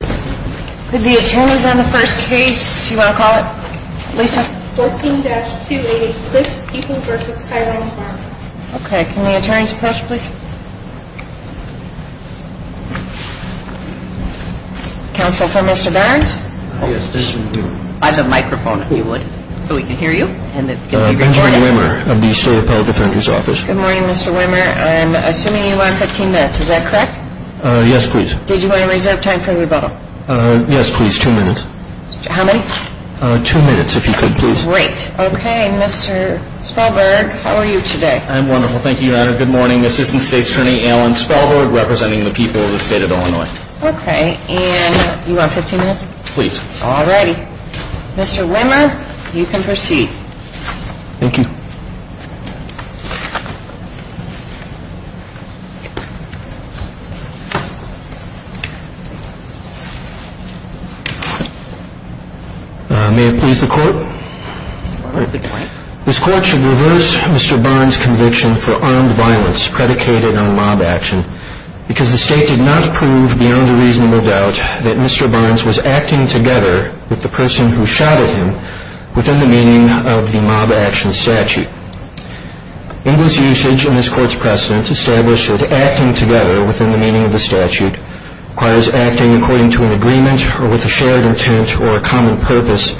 Good morning, Mr. Wimmer. I'm assuming you are on 15 minutes, is that correct? Yes, please. Did you want to reserve time for rebuttal? Yes, please. Two minutes. How many? Two minutes, if you could, please. Great. Okay, Mr. Spalberg, how are you today? I'm wonderful. Thank you, Your Honor. Good morning. Assistant State's Attorney Alan Spalberg, representing the people of the state of Illinois. Okay. And you are on 15 minutes? Please. All righty. Mr. Wimmer, you can proceed. Thank you. May it please the Court? The Court is adjourned. This Court should reverse Mr. Barnes' conviction for armed violence predicated on mob action because the State did not prove beyond a reasonable doubt that Mr. Barnes was acting together with the person who shot at him within the meaning of the mob action statute. In this usage and this Court's precedent establish that acting together within the meaning of the statute requires acting according to an agreement or with a shared intent or a common purpose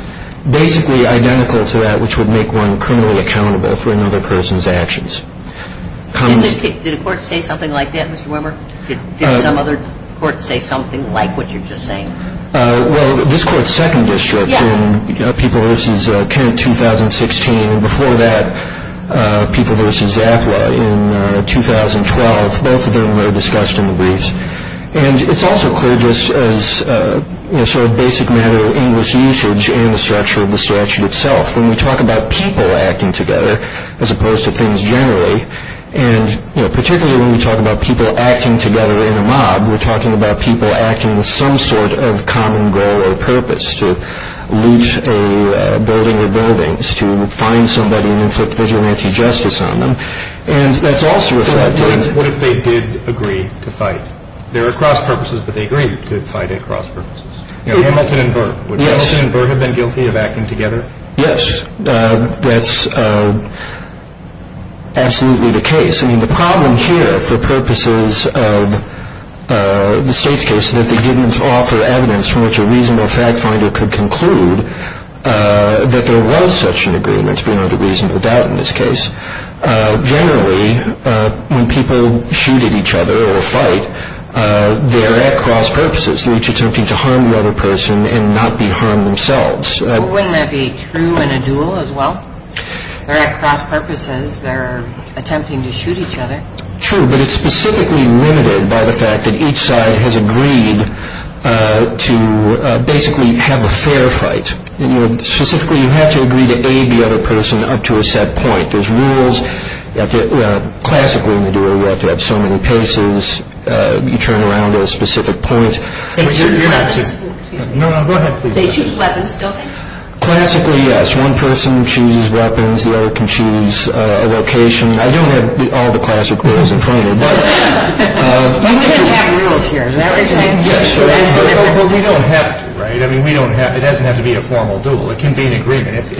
basically identical to that which would make one criminally accountable for another person's actions. Did the Court say something like that, Mr. Wimmer? Did some other Court say something like what you're just saying? Well, this Court's second district in People v. Kent, 2016, and before that, People v. Zafla in 2012, both of them were discussed in the briefs. And it's also clear just as sort of basic matter of English usage and the structure of the statute itself. When we talk about people acting together as opposed to things generally, and particularly when we talk about people acting together in a mob, we're talking about people acting with some sort of common goal or purpose to loot a building or buildings, to find somebody and inflict vigilante justice on them. And that's also a fact. What if they did agree to fight? There are cross-purposes, but they agreed to fight at cross-purposes. Hamilton and Burr. Yes. Would Hamilton and Burr have been guilty of acting together? Yes. That's absolutely the case. I mean, the problem here, for purposes of the State's case, is that they didn't offer evidence from which a reasonable fact finder could conclude that there was such an agreement, to be under reasonable doubt in this case. Generally, when people shoot at each other or fight, they're at cross-purposes. They're each attempting to harm the other person and not be harmed themselves. Wouldn't that be true in a duel as well? They're at cross-purposes. They're attempting to shoot each other. True, but it's specifically limited by the fact that each side has agreed to basically have a fair fight. Specifically, you have to agree to aid the other person up to a set point. There's rules. Classically, in a duel, you have to have so many paces, you turn around at a specific point. They choose weapons. No, go ahead, please. They choose weapons, don't they? Classically, yes. One person chooses weapons, the other can choose a location. I don't have all the classic rules in front of me. We can have rules here. We don't have to, right? It doesn't have to be a formal duel. It can be an agreement.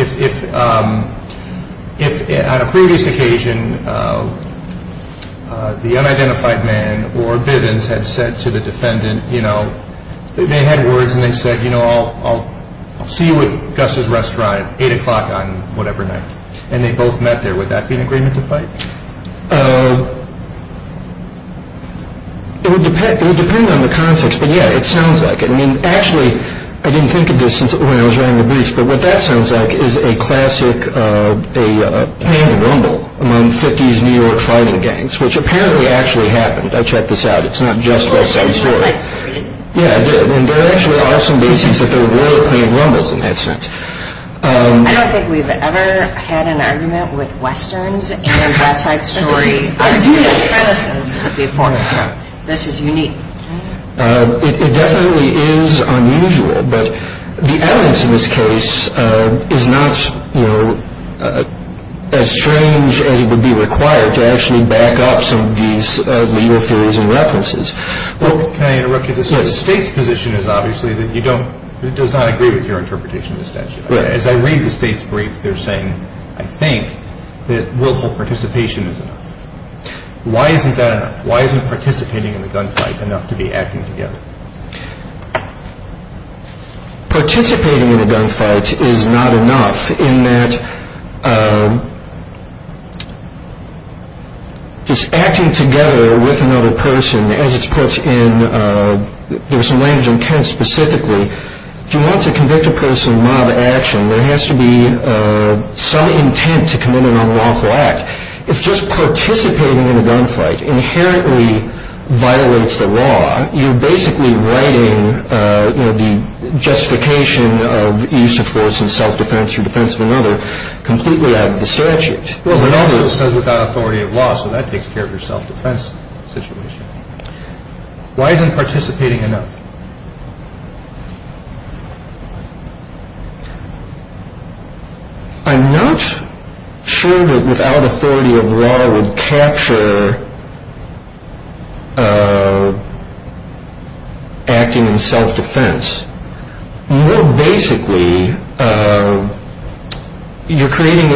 If on a previous occasion, the unidentified man or Bivens had said to the defendant, they had words and they said, you know, I'll see you at Gus's restaurant at 8 o'clock on whatever night. And they both met there. Would that be an agreement to fight? It would depend on the context, but yeah, it sounds like it. I mean, actually, I didn't think of this when I was writing the briefs, but what that sounds like is a classic planned rumble among 50s New York fighting gangs, which apparently actually happened. I checked this out. It's not just West Side Story. Yeah, it did. And there actually are some cases that there were planned rumbles in that sense. I don't think we've ever had an argument with Westerns and West Side Story. I do. This is unique. It definitely is unusual, but the evidence in this case is not, you know, as strange as it would be required to actually back up some of these legal theories and references. Well, can I interrupt you? Yes. The State's position is obviously that it does not agree with your interpretation of the statute. As I read the State's brief, they're saying, I think, that willful participation is enough. Why isn't that enough? Why isn't participating in the gunfight enough to be acting together? Participating in a gunfight is not enough in that just acting together with another person, as it's put in, there was some language in Kent specifically, if you want to convict a person of mob action, there has to be some intent to commit an unlawful act. If just participating in a gunfight inherently violates the law, you're basically writing the justification of use of force in self-defense or defense of another completely out of the statute. It also says without authority of law, so that takes care of your self-defense situation. Why isn't participating enough? I'm not sure that without authority of law would capture acting in self-defense. More basically, you're creating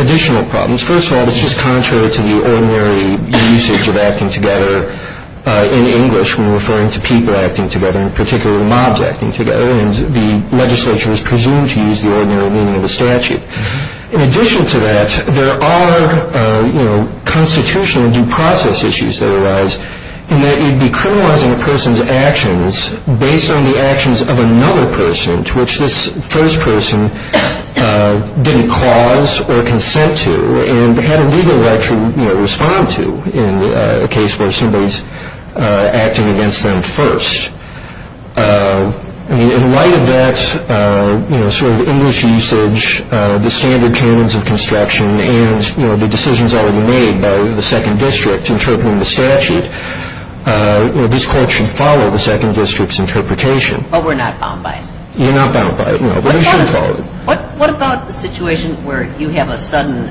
additional problems. First of all, it's just contrary to the ordinary usage of acting together in English when referring to people acting together, in particular mobs acting together, and the legislature is presumed to use the ordinary meaning of the statute. In addition to that, there are constitutional due process issues that arise in that you'd be criminalizing a person's actions based on the actions of another person to which this first person didn't cause or consent to and had a legal right to respond to in a case where somebody's acting against them first. In light of that sort of English usage, the standard canons of construction, and the decisions already made by the Second District interpreting the statute, this Court should follow the Second District's interpretation. But we're not bound by it. You're not bound by it, no, but you should follow it. What about the situation where you have a sudden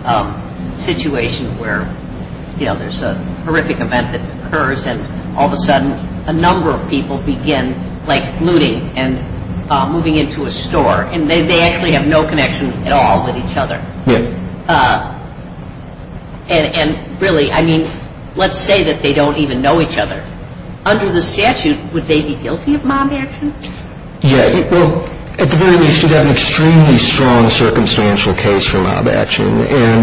situation where, you know, there's a horrific event that occurs and all of a sudden a number of people begin, like, looting and moving into a store, and they actually have no connection at all with each other? Yes. And really, I mean, let's say that they don't even know each other. Under the statute, would they be guilty of mob action? Yeah. Well, at the very least, you'd have an extremely strong circumstantial case for mob action, and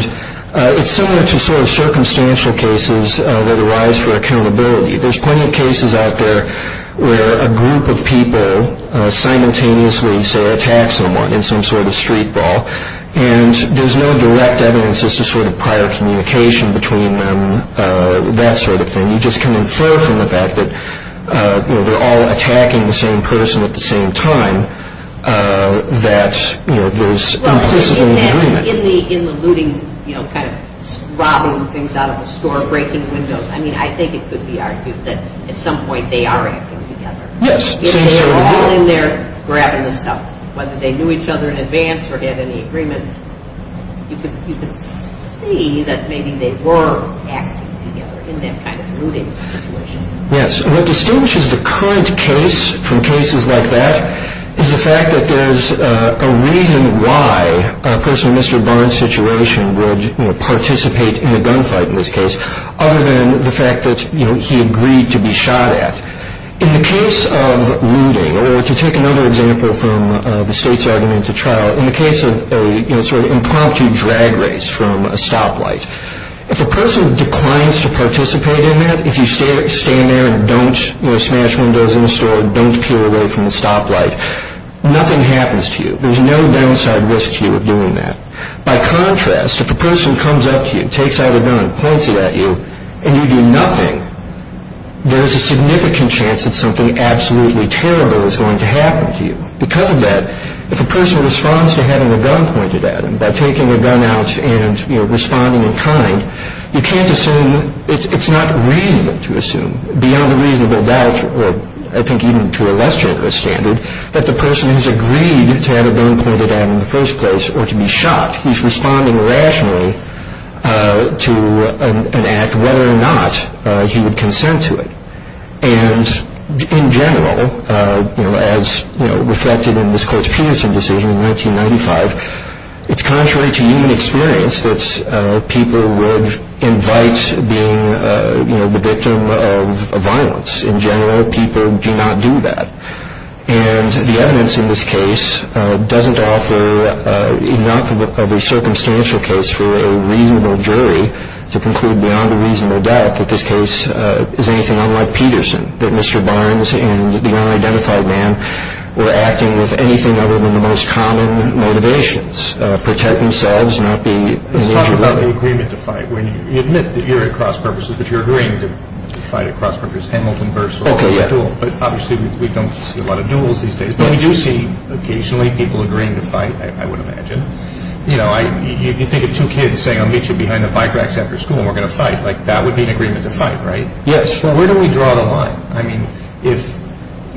it's similar to sort of circumstantial cases that arise for accountability. There's plenty of cases out there where a group of people simultaneously, say, attack someone in some sort of street ball, and there's no direct evidence as to sort of prior communication between them, that sort of thing. You just can infer from the fact that, you know, they're all attacking the same person at the same time that, you know, there's implicitly agreement. In the looting, you know, kind of robbing things out of a store, breaking windows, I mean, I think it could be argued that at some point they are acting together. Yes. If they were all in there grabbing the stuff, whether they knew each other in advance or had any agreement, you could see that maybe they were acting together in that kind of looting situation. Yes. What distinguishes the current case from cases like that is the fact that there's a reason why a person in Mr. Barnes' situation would, you know, participate in a gunfight in this case, other than the fact that, you know, he agreed to be shot at. In the case of looting, or to take another example from the state's argument to trial, in the case of a, you know, sort of impromptu drag race from a stoplight, if a person declines to participate in that, if you stay in there and don't, you know, smash windows in a store, don't peel away from the stoplight, nothing happens to you. There's no downside risk to you of doing that. By contrast, if a person comes up to you, takes out a gun, points it at you, and you do nothing, there's a significant chance that something absolutely terrible is going to happen to you. Because of that, if a person responds to having a gun pointed at him by taking a gun out and, you know, responding in kind, you can't assume, it's not reasonable to assume, beyond a reasonable doubt, or I think even to a less generous standard, that the person has agreed to have a gun pointed at him in the first place or to be shot. He's responding rationally to an act, whether or not he would consent to it. And in general, you know, as reflected in this court's Peterson decision in 1995, it's contrary to human experience that people would invite being, you know, the victim of violence. In general, people do not do that. And the evidence in this case doesn't offer enough of a circumstantial case for a reasonable jury to conclude beyond a reasonable doubt that this case is anything unlike Peterson, that Mr. Barnes and the unidentified man were acting with anything other than the most common motivations, protect themselves, not be in danger. Let's talk about the agreement to fight. You admit that you're at cross purposes, but you're agreeing to fight at cross purposes. Hamilton versus Orville. Okay, yeah. But obviously we don't see a lot of duels these days. But we do see occasionally people agreeing to fight, I would imagine. You know, you think of two kids saying, I'll meet you behind the bike racks after school and we're going to fight. Like, that would be an agreement to fight, right? Yes. Well, where do we draw the line? I mean,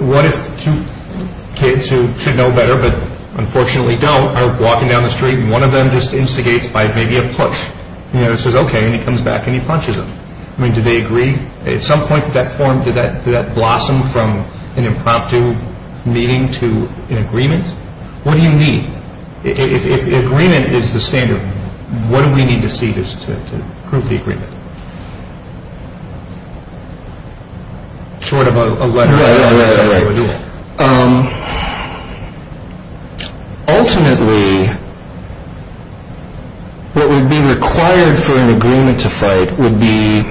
what if two kids who should know better but unfortunately don't are walking down the street and one of them just instigates by maybe a push? You know, he says, okay, and he comes back and he punches him. I mean, do they agree? At some point did that form, did that blossom from an impromptu meeting to an agreement? What do you need? If agreement is the standard, what do we need to see just to prove the agreement? Short of a letter. Yeah, yeah, yeah. Ultimately, what would be required for an agreement to fight would be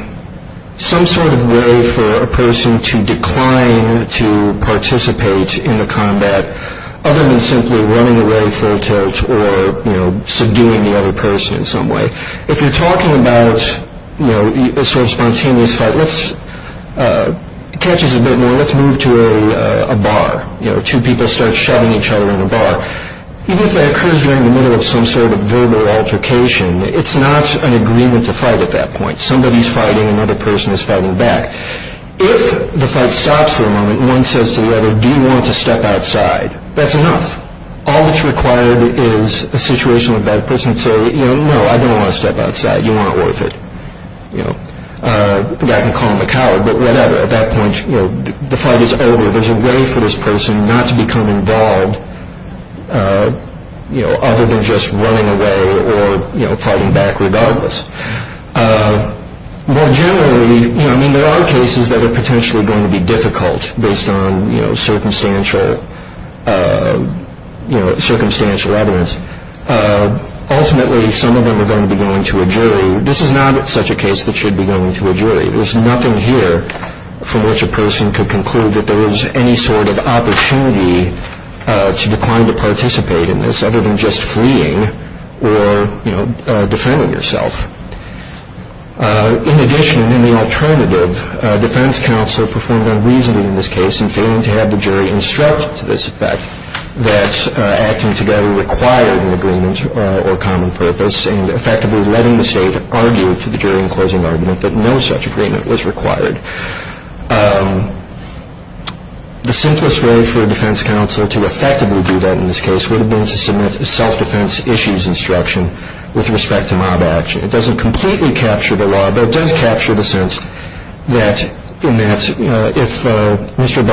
some sort of way for a person to decline and to participate in a combat other than simply running away full tilt or, you know, subduing the other person in some way. If you're talking about, you know, a sort of spontaneous fight, let's, it catches a bit more, let's move to a bar. You know, two people start shoving each other in a bar. Even if that occurs during the middle of some sort of verbal altercation, it's not an agreement to fight at that point. Somebody's fighting, another person is fighting back. If the fight stops for a moment and one says to the other, do you want to step outside? That's enough. All that's required is a situation with that person to say, you know, no, I don't want to step outside. You weren't worth it. You know, the guy can call him a coward, but whatever. At that point, you know, the fight is over. There's a way for this person not to become involved, you know, other than just running away or, you know, fighting back regardless. More generally, you know, I mean, there are cases that are potentially going to be difficult based on, you know, circumstantial, you know, circumstantial evidence. Ultimately, some of them are going to be going to a jury. This is not such a case that should be going to a jury. There's nothing here from which a person could conclude that there is any sort of opportunity to decline to participate in this, other than just fleeing or, you know, defending yourself. In addition, in the alternative, defense counsel performed unreasonably in this case in failing to have the jury instruct to this effect that acting together required an agreement or common purpose and effectively letting the state argue to the jury in closing argument that no such agreement was required. The simplest way for a defense counsel to effectively do that in this case would have been to submit a self-defense issues instruction with respect to mob action. It doesn't completely capture the law, but it does capture the sense that in that if Mr.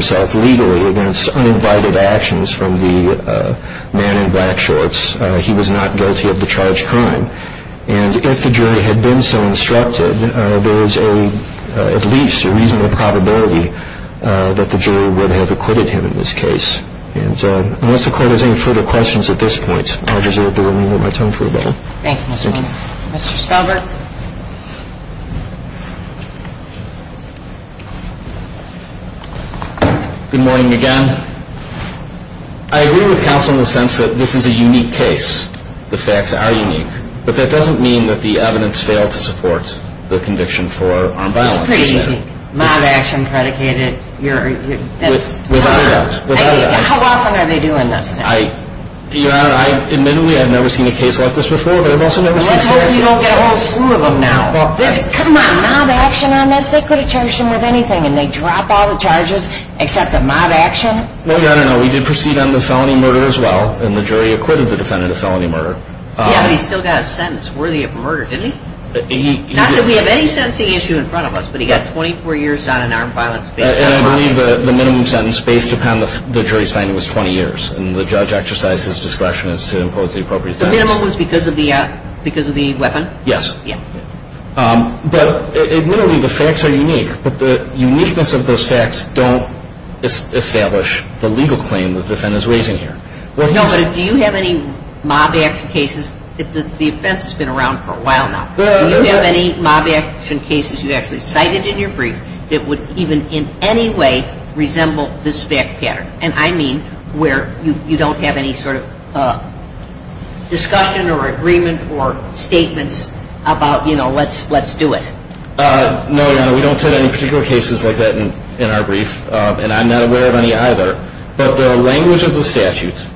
Spaulding had not invited actions from the man in black shorts, he was not guilty of the charged crime. And if the jury had been so instructed, there is at least a reasonable probability that the jury would have acquitted him in this case. And so unless the Court has any further questions at this point, I deserve to remove my tongue for a minute. Thank you, Mr. Spaulding. Mr. Spaulding. Good morning, Your Honor. Good morning again. I agree with counsel in the sense that this is a unique case. The facts are unique. But that doesn't mean that the evidence failed to support the conviction for armed violence. It's pretty unique. Mob action predicated. Without a doubt. How often are they doing this now? Your Honor, admittedly, I've never seen a case like this before, but I've also never seen such a case. I hope you don't get a whole slew of them now. Come on. Mob action on this? They could have charged him with anything. And they drop all the charges except the mob action? No, Your Honor, no. We did proceed on the felony murder as well. And the jury acquitted the defendant of felony murder. Yeah, but he still got a sentence worthy of murder, didn't he? Not that we have any sentencing issue in front of us, but he got 24 years on in armed violence. And I believe the minimum sentence based upon the jury's finding was 20 years. And the judge exercised his discretion as to impose the appropriate sentence. The minimum was because of the weapon? Yes. Yeah. But admittedly, the facts are unique. But the uniqueness of those facts don't establish the legal claim that the defendant is raising here. No, but do you have any mob action cases? The offense has been around for a while now. Do you have any mob action cases you actually cited in your brief that would even in any way resemble this fact pattern? And I mean where you don't have any sort of discussion or agreement or statements about, you know, let's do it. No, Your Honor, we don't cite any particular cases like that in our brief. And I'm not aware of any either. But the language of the statute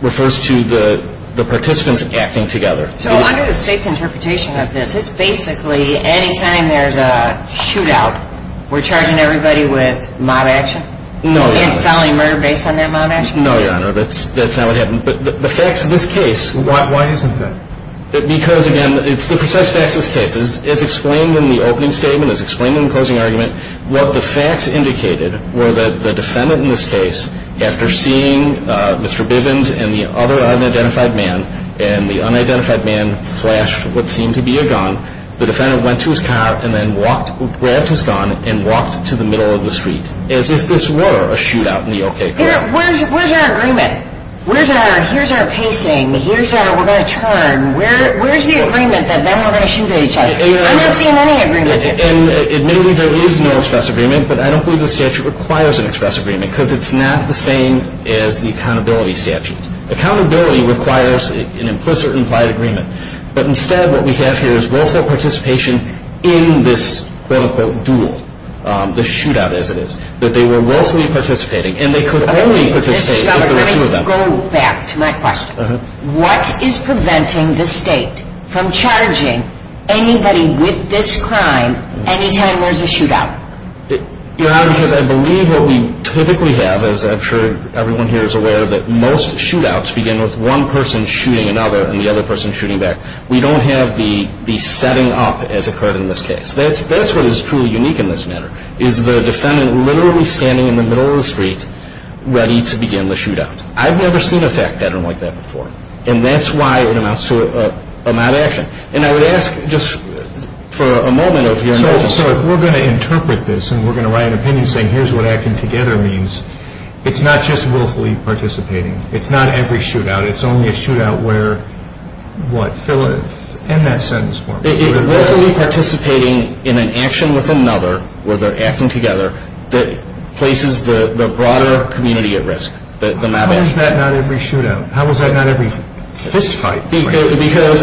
refers to the participants acting together. So under the state's interpretation of this, it's basically anytime there's a shootout, we're charging everybody with mob action? No, Your Honor. And filing murder based on that mob action? No, Your Honor, that's not what happened. But the facts of this case. Why isn't that? Because, again, it's the precise facts of this case. It's explained in the opening statement. It's explained in the closing argument. What the facts indicated were that the defendant in this case, after seeing Mr. Bivens and the other unidentified man, and the unidentified man flashed what seemed to be a gun, the defendant went to his car and then walked, grabbed his gun, and walked to the middle of the street as if this were a shootout in the O.K. Courthouse. Where's our agreement? Here's our pacing. Here's our we're going to turn. Where's the agreement that then we're going to shoot at each other? I'm not seeing any agreement. And admittedly, there is no express agreement, but I don't believe the statute requires an express agreement because it's not the same as the accountability statute. Accountability requires an implicit implied agreement. But instead, what we have here is willful participation in this, quote, unquote, duel, the shootout as it is, that they were willfully participating, and they could only participate if there were two of them. Let me go back to my question. What is preventing the state from charging anybody with this crime anytime there's a shootout? Your Honor, because I believe what we typically have, as I'm sure everyone here is aware of, is that most shootouts begin with one person shooting another and the other person shooting back. We don't have the setting up as occurred in this case. That's what is truly unique in this matter, is the defendant literally standing in the middle of the street ready to begin the shootout. I've never seen a fact pattern like that before, and that's why it amounts to a mad action. And I would ask just for a moment of your imagination. So if we're going to interpret this and we're going to write an opinion saying here's what acting together means, it's not just willfully participating. It's not every shootout. It's only a shootout where, what, fill in that sentence for me. Willfully participating in an action with another where they're acting together that places the broader community at risk. How is that not every shootout? How is that not every fist fight? Because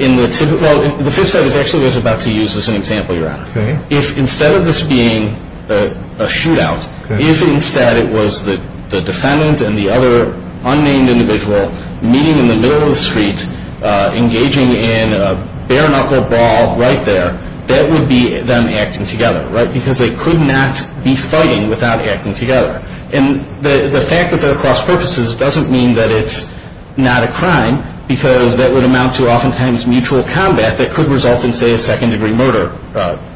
in the typical, well, the fist fight is actually what I was about to use as an example, Your Honor. If instead of this being a shootout, if instead it was the defendant and the other unnamed individual meeting in the middle of the street, engaging in a bare knuckle ball right there, that would be them acting together, right? Because they could not be fighting without acting together. And the fact that they're cross purposes doesn't mean that it's not a crime because that would amount to oftentimes mutual combat that could result in, say, a second degree murder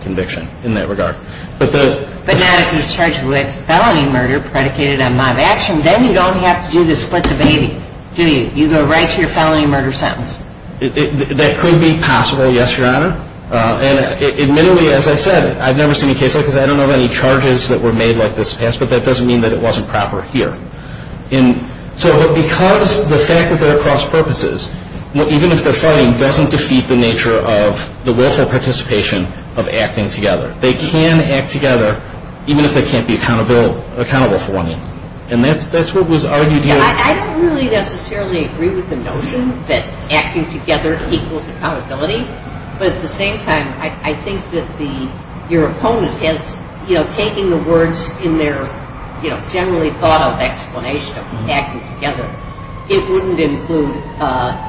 conviction in that regard. But not if he's charged with felony murder predicated on live action. Then you don't have to do the split the baby, do you? You go right to your felony murder sentence. That could be possible, yes, Your Honor. And admittedly, as I said, I've never seen a case like this. I don't know of any charges that were made like this in the past, but that doesn't mean that it wasn't proper here. So because the fact that they're cross purposes, even if they're fighting, doesn't defeat the nature of the willful participation of acting together. They can act together even if they can't be accountable for one another. And that's what was argued here. I don't really necessarily agree with the notion that acting together equals accountability. But at the same time, I think that your opponent is taking the words in their generally thought of explanation of acting together. It wouldn't include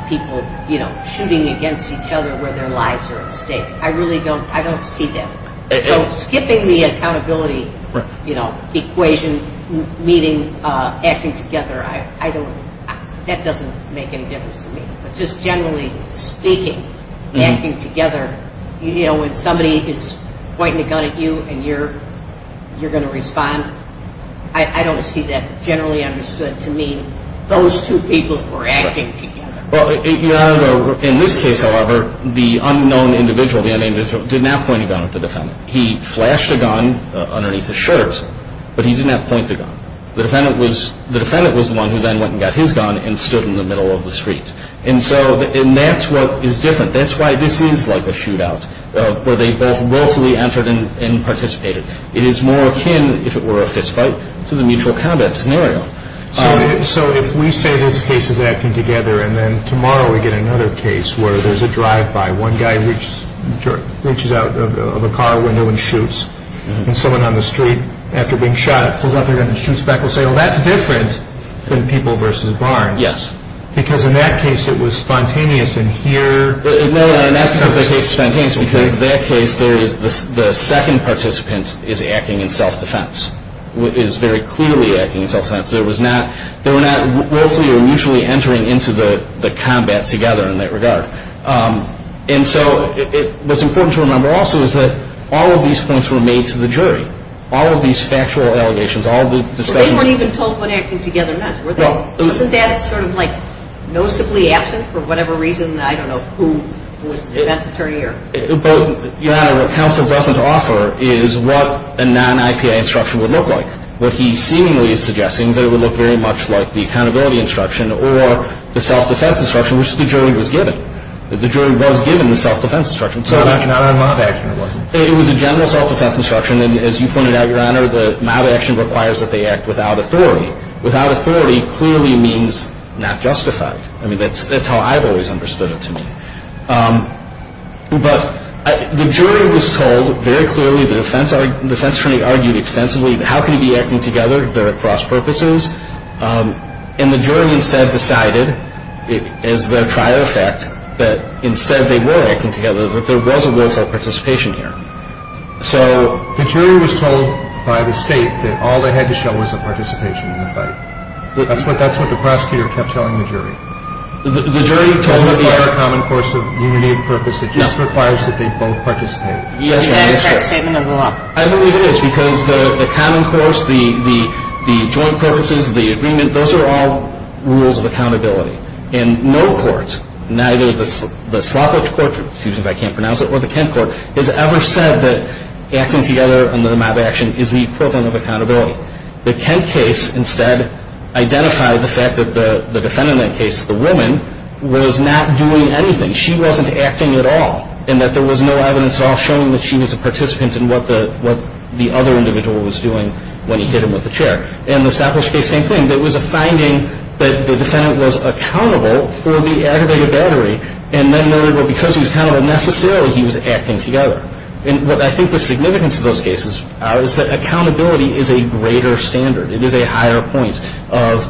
people shooting against each other where their lives are at stake. I really don't see that. So skipping the accountability equation, meaning acting together, that doesn't make any difference to me. But just generally speaking, acting together, you know, when somebody is pointing a gun at you and you're going to respond, I don't see that generally understood to mean those two people were acting together. Your Honor, in this case, however, the unknown individual, the unnamed individual, did not point a gun at the defendant. He flashed a gun underneath his shirt or something, but he did not point the gun. The defendant was the one who then went and got his gun and stood in the middle of the street. And that's what is different. That's why this is like a shootout where they both willfully entered and participated. It is more akin, if it were a fistfight, to the mutual combat scenario. So if we say this case is acting together and then tomorrow we get another case where there's a drive-by, one guy reaches out of a car window and shoots someone on the street. After being shot, he pulls out the gun and shoots back. We'll say, oh, that's different than people versus Barnes. Yes. Because in that case it was spontaneous. No, in that case it was spontaneous because in that case the second participant is acting in self-defense, is very clearly acting in self-defense. They were not willfully or mutually entering into the combat together in that regard. And so what's important to remember also is that all of these points were made to the jury. All of these factual allegations, all of the discussions. They weren't even told when acting together or not. Wasn't that sort of like noticeably absent for whatever reason? I don't know who was the defense attorney here. But, Your Honor, what counsel doesn't offer is what a non-IPA instruction would look like. What he seemingly is suggesting is that it would look very much like the accountability instruction or the self-defense instruction, which the jury was given. The jury was given the self-defense instruction. So not a mob action, it wasn't. It was a general self-defense instruction. And as you pointed out, Your Honor, the mob action requires that they act without authority. Without authority clearly means not justified. I mean, that's how I've always understood it to mean. But the jury was told very clearly, the defense attorney argued extensively, how could he be acting together? There are cross-purposes. And the jury instead decided as their trial effect that instead they were acting together, that there was a willful participation here. So the jury was told by the State that all they had to show was a participation in the fight. That's what the prosecutor kept telling the jury. The jury told them that there was a common course of unity of purpose. It just requires that they both participate. Yes, Your Honor. Is that a correct statement of the law? I believe it is because the common course, the joint purposes, the agreement, those are all rules of accountability. And no court, neither the Slapplech Court, excuse me if I can't pronounce it, or the Kent Court has ever said that acting together under the mob action is the equivalent of accountability. The Kent case instead identified the fact that the defendant in that case, the woman, was not doing anything. She wasn't acting at all. And that there was no evidence at all showing that she was a participant in what the other individual was doing when he hit him with the chair. And the Slapplech case, same thing. There was a finding that the defendant was accountable for the aggravated battery and then noted, well, because he was accountable necessarily, he was acting together. And what I think the significance of those cases are is that accountability is a greater standard. It is a higher point of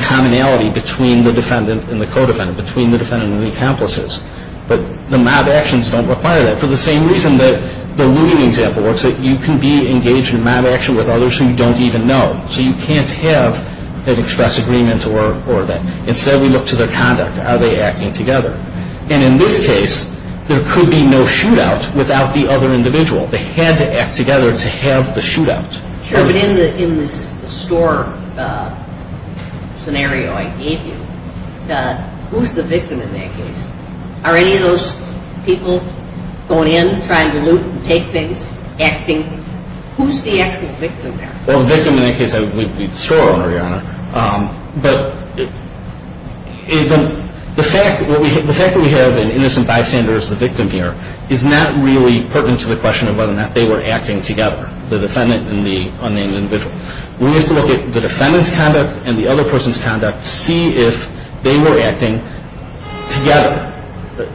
commonality between the defendant and the co-defendant, between the defendant and the accomplices. But the mob actions don't require that for the same reason that the looting example works, that you can be engaged in a mob action with others who you don't even know. So you can't have that express agreement or that. Instead, we look to their conduct. Are they acting together? And in this case, there could be no shootout without the other individual. They had to act together to have the shootout. Sure, but in the store scenario I gave you, who's the victim in that case? Are any of those people going in, trying to loot and take things, acting? Who's the actual victim there? Well, the victim in that case would be the store owner, Your Honor. But the fact that we have an innocent bystander as the victim here is not really pertinent to the question of whether or not they were acting together, the defendant and the unnamed individual. We have to look at the defendant's conduct and the other person's conduct to see if they were acting together.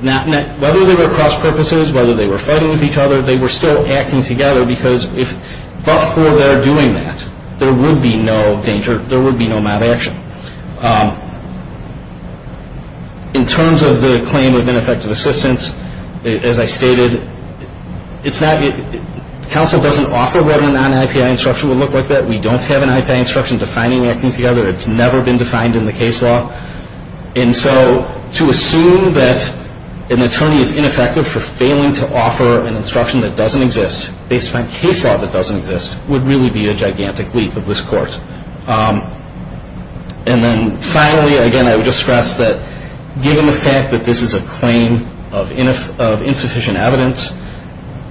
Whether they were cross-purposes, whether they were fighting with each other, they were still acting together because if, but for their doing that, there would be no danger, there would be no mob action. In terms of the claim of ineffective assistance, as I stated, counsel doesn't offer whether or not an IPI instruction would look like that. We don't have an IPI instruction defining acting together. It's never been defined in the case law. And so to assume that an attorney is ineffective for failing to offer an instruction that doesn't exist, based on case law that doesn't exist, would really be a gigantic leap of this Court. And then finally, again, I would just stress that given the fact that this is a claim of insufficient evidence,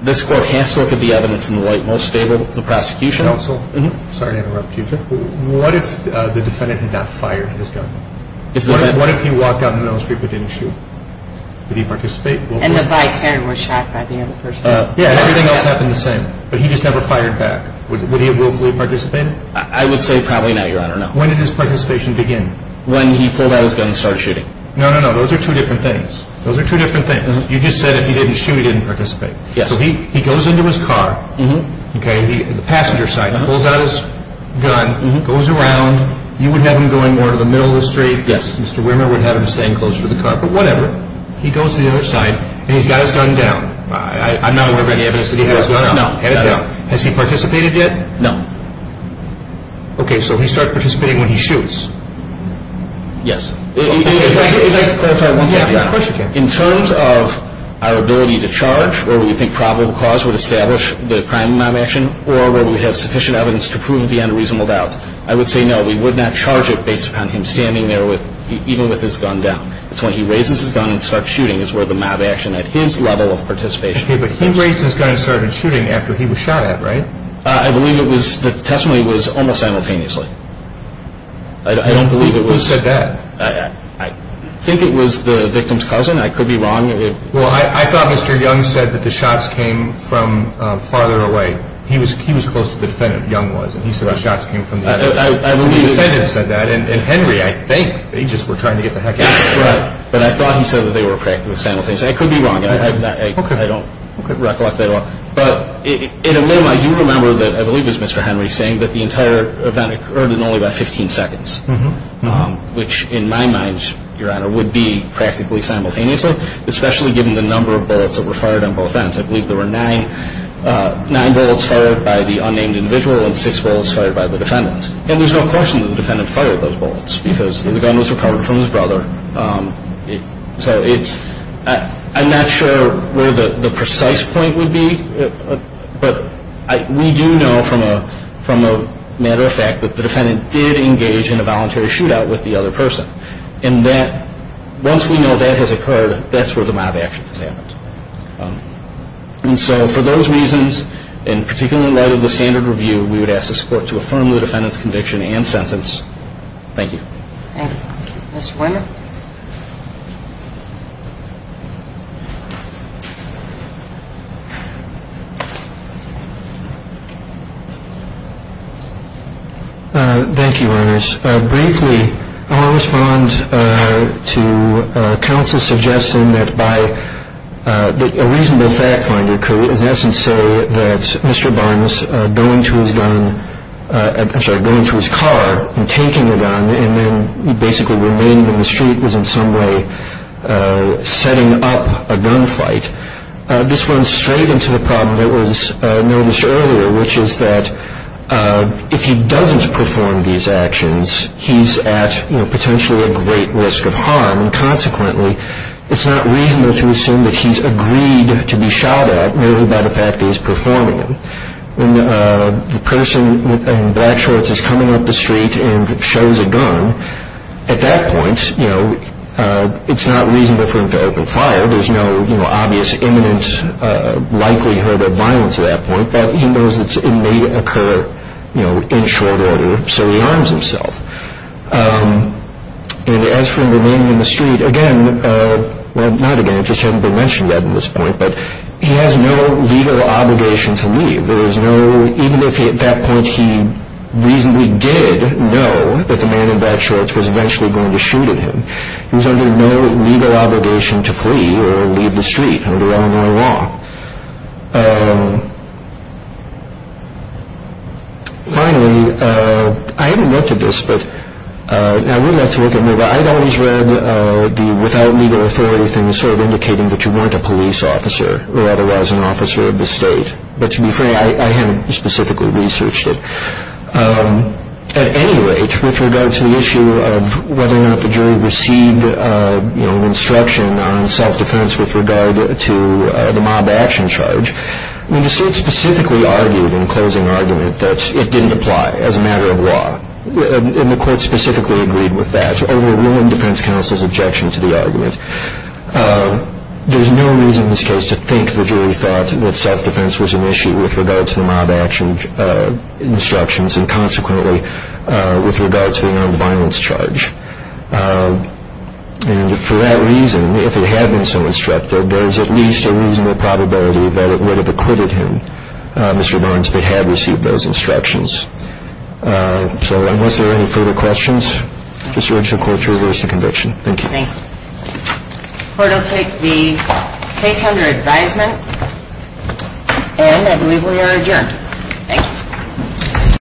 this Court has to look at the evidence in the light most favorable to the prosecution. Counsel? Mm-hmm. I'm sorry to interrupt you, but what if the defendant had not fired his gun? What if he walked down the middle of the street but didn't shoot? Would he participate? And the bystander was shot by the other person. Yeah, everything else happened the same, but he just never fired back. Would he have willfully participated? I would say probably not, Your Honor, no. When did his participation begin? When he pulled out his gun and started shooting. No, no, no, those are two different things. Those are two different things. You just said if he didn't shoot, he didn't participate. Yes. So he goes into his car. Mm-hmm. Okay, the passenger side. He pulls out his gun, goes around. You would have him going more to the middle of the street. Yes. Mr. Wimmer would have him staying closer to the car, but whatever. He goes to the other side, and he's got his gun down. I'm not aware of any evidence that he has his gun down. No, no, no. Has he participated yet? No. Okay, so he starts participating when he shoots. Yes. If I could clarify one second. Of course you can. In terms of our ability to charge, whether we think probable cause would establish the crime mob action or whether we have sufficient evidence to prove the unreasonable doubt, I would say no, we would not charge it based upon him standing there, even with his gun down. It's when he raises his gun and starts shooting is where the mob action, at his level of participation, is. Okay, but he raised his gun and started shooting after he was shot at, right? I believe the testimony was almost simultaneously. I don't believe it was. Who said that? I think it was the victim's cousin. I could be wrong. I thought Mr. Young said that the shots came from farther away. He was close to the defendant, Young was, and he said the shots came from farther away. The defendant said that, and Henry, I think, they just were trying to get the heck out of him. But I thought he said that they were practically simultaneously. I could be wrong. I don't recollect that at all. But in a way, I do remember that I believe it was Mr. Henry saying that the entire event occurred in only about 15 seconds, which in my mind, Your Honor, would be practically simultaneously. Especially given the number of bullets that were fired on both ends. I believe there were nine bullets fired by the unnamed individual and six bullets fired by the defendant. And there's no question that the defendant fired those bullets because the gun was recovered from his brother. So I'm not sure where the precise point would be, but we do know from a matter of fact that the defendant did engage in a voluntary shootout with the other person. And that once we know that has occurred, that's where the mob action has happened. And so for those reasons, and particularly in light of the standard review, we would ask the court to affirm the defendant's conviction and sentence. Thank you. Thank you. Thank you, Your Honor. Briefly, I want to respond to counsel's suggestion that a reasonable fact finder could in essence say that Mr. Barnes going to his car and taking the gun and then basically remained in the street was in some way setting up a gunfight. This runs straight into the problem that was noticed earlier, which is that if he doesn't perform these actions, he's at potentially a great risk of harm. And consequently, it's not reasonable to assume that he's agreed to be shot at merely by the fact that he's performing them. When the person in black shorts is coming up the street and shows a gun, at that point it's not reasonable for him to open fire. There's no obvious imminent likelihood of violence at that point. He knows it may occur in short order, so he arms himself. And as for him remaining in the street, again, well, not again, it just hasn't been mentioned yet at this point, but he has no legal obligation to leave. There is no, even if at that point he reasonably did know that the man in black shorts was eventually going to shoot at him, he was under no legal obligation to flee or leave the street under Illinois law. Finally, I haven't looked at this, but I'd really like to look at it, but I'd always read the without legal authority thing as sort of indicating that you weren't a police officer or otherwise an officer of the state. But to be fair, I hadn't specifically researched it. At any rate, with regard to the issue of whether or not the jury received an instruction on self-defense with regard to the mob action charge, the state specifically argued in closing argument that it didn't apply as a matter of law. And the court specifically agreed with that, overruling defense counsel's objection to the argument. There's no reason in this case to think the jury thought that self-defense was an issue with regard to the mob action instructions and consequently with regard to the nonviolence charge. And for that reason, if it had been so instructed, there's at least a reasonable probability that it would have acquitted him, Mr. Lawrence, that had received those instructions. So unless there are any further questions, just urge the court to reverse the conviction. Thank you. Thank you. The court will take the case under advisement, and I believe we are adjourned. Thank you.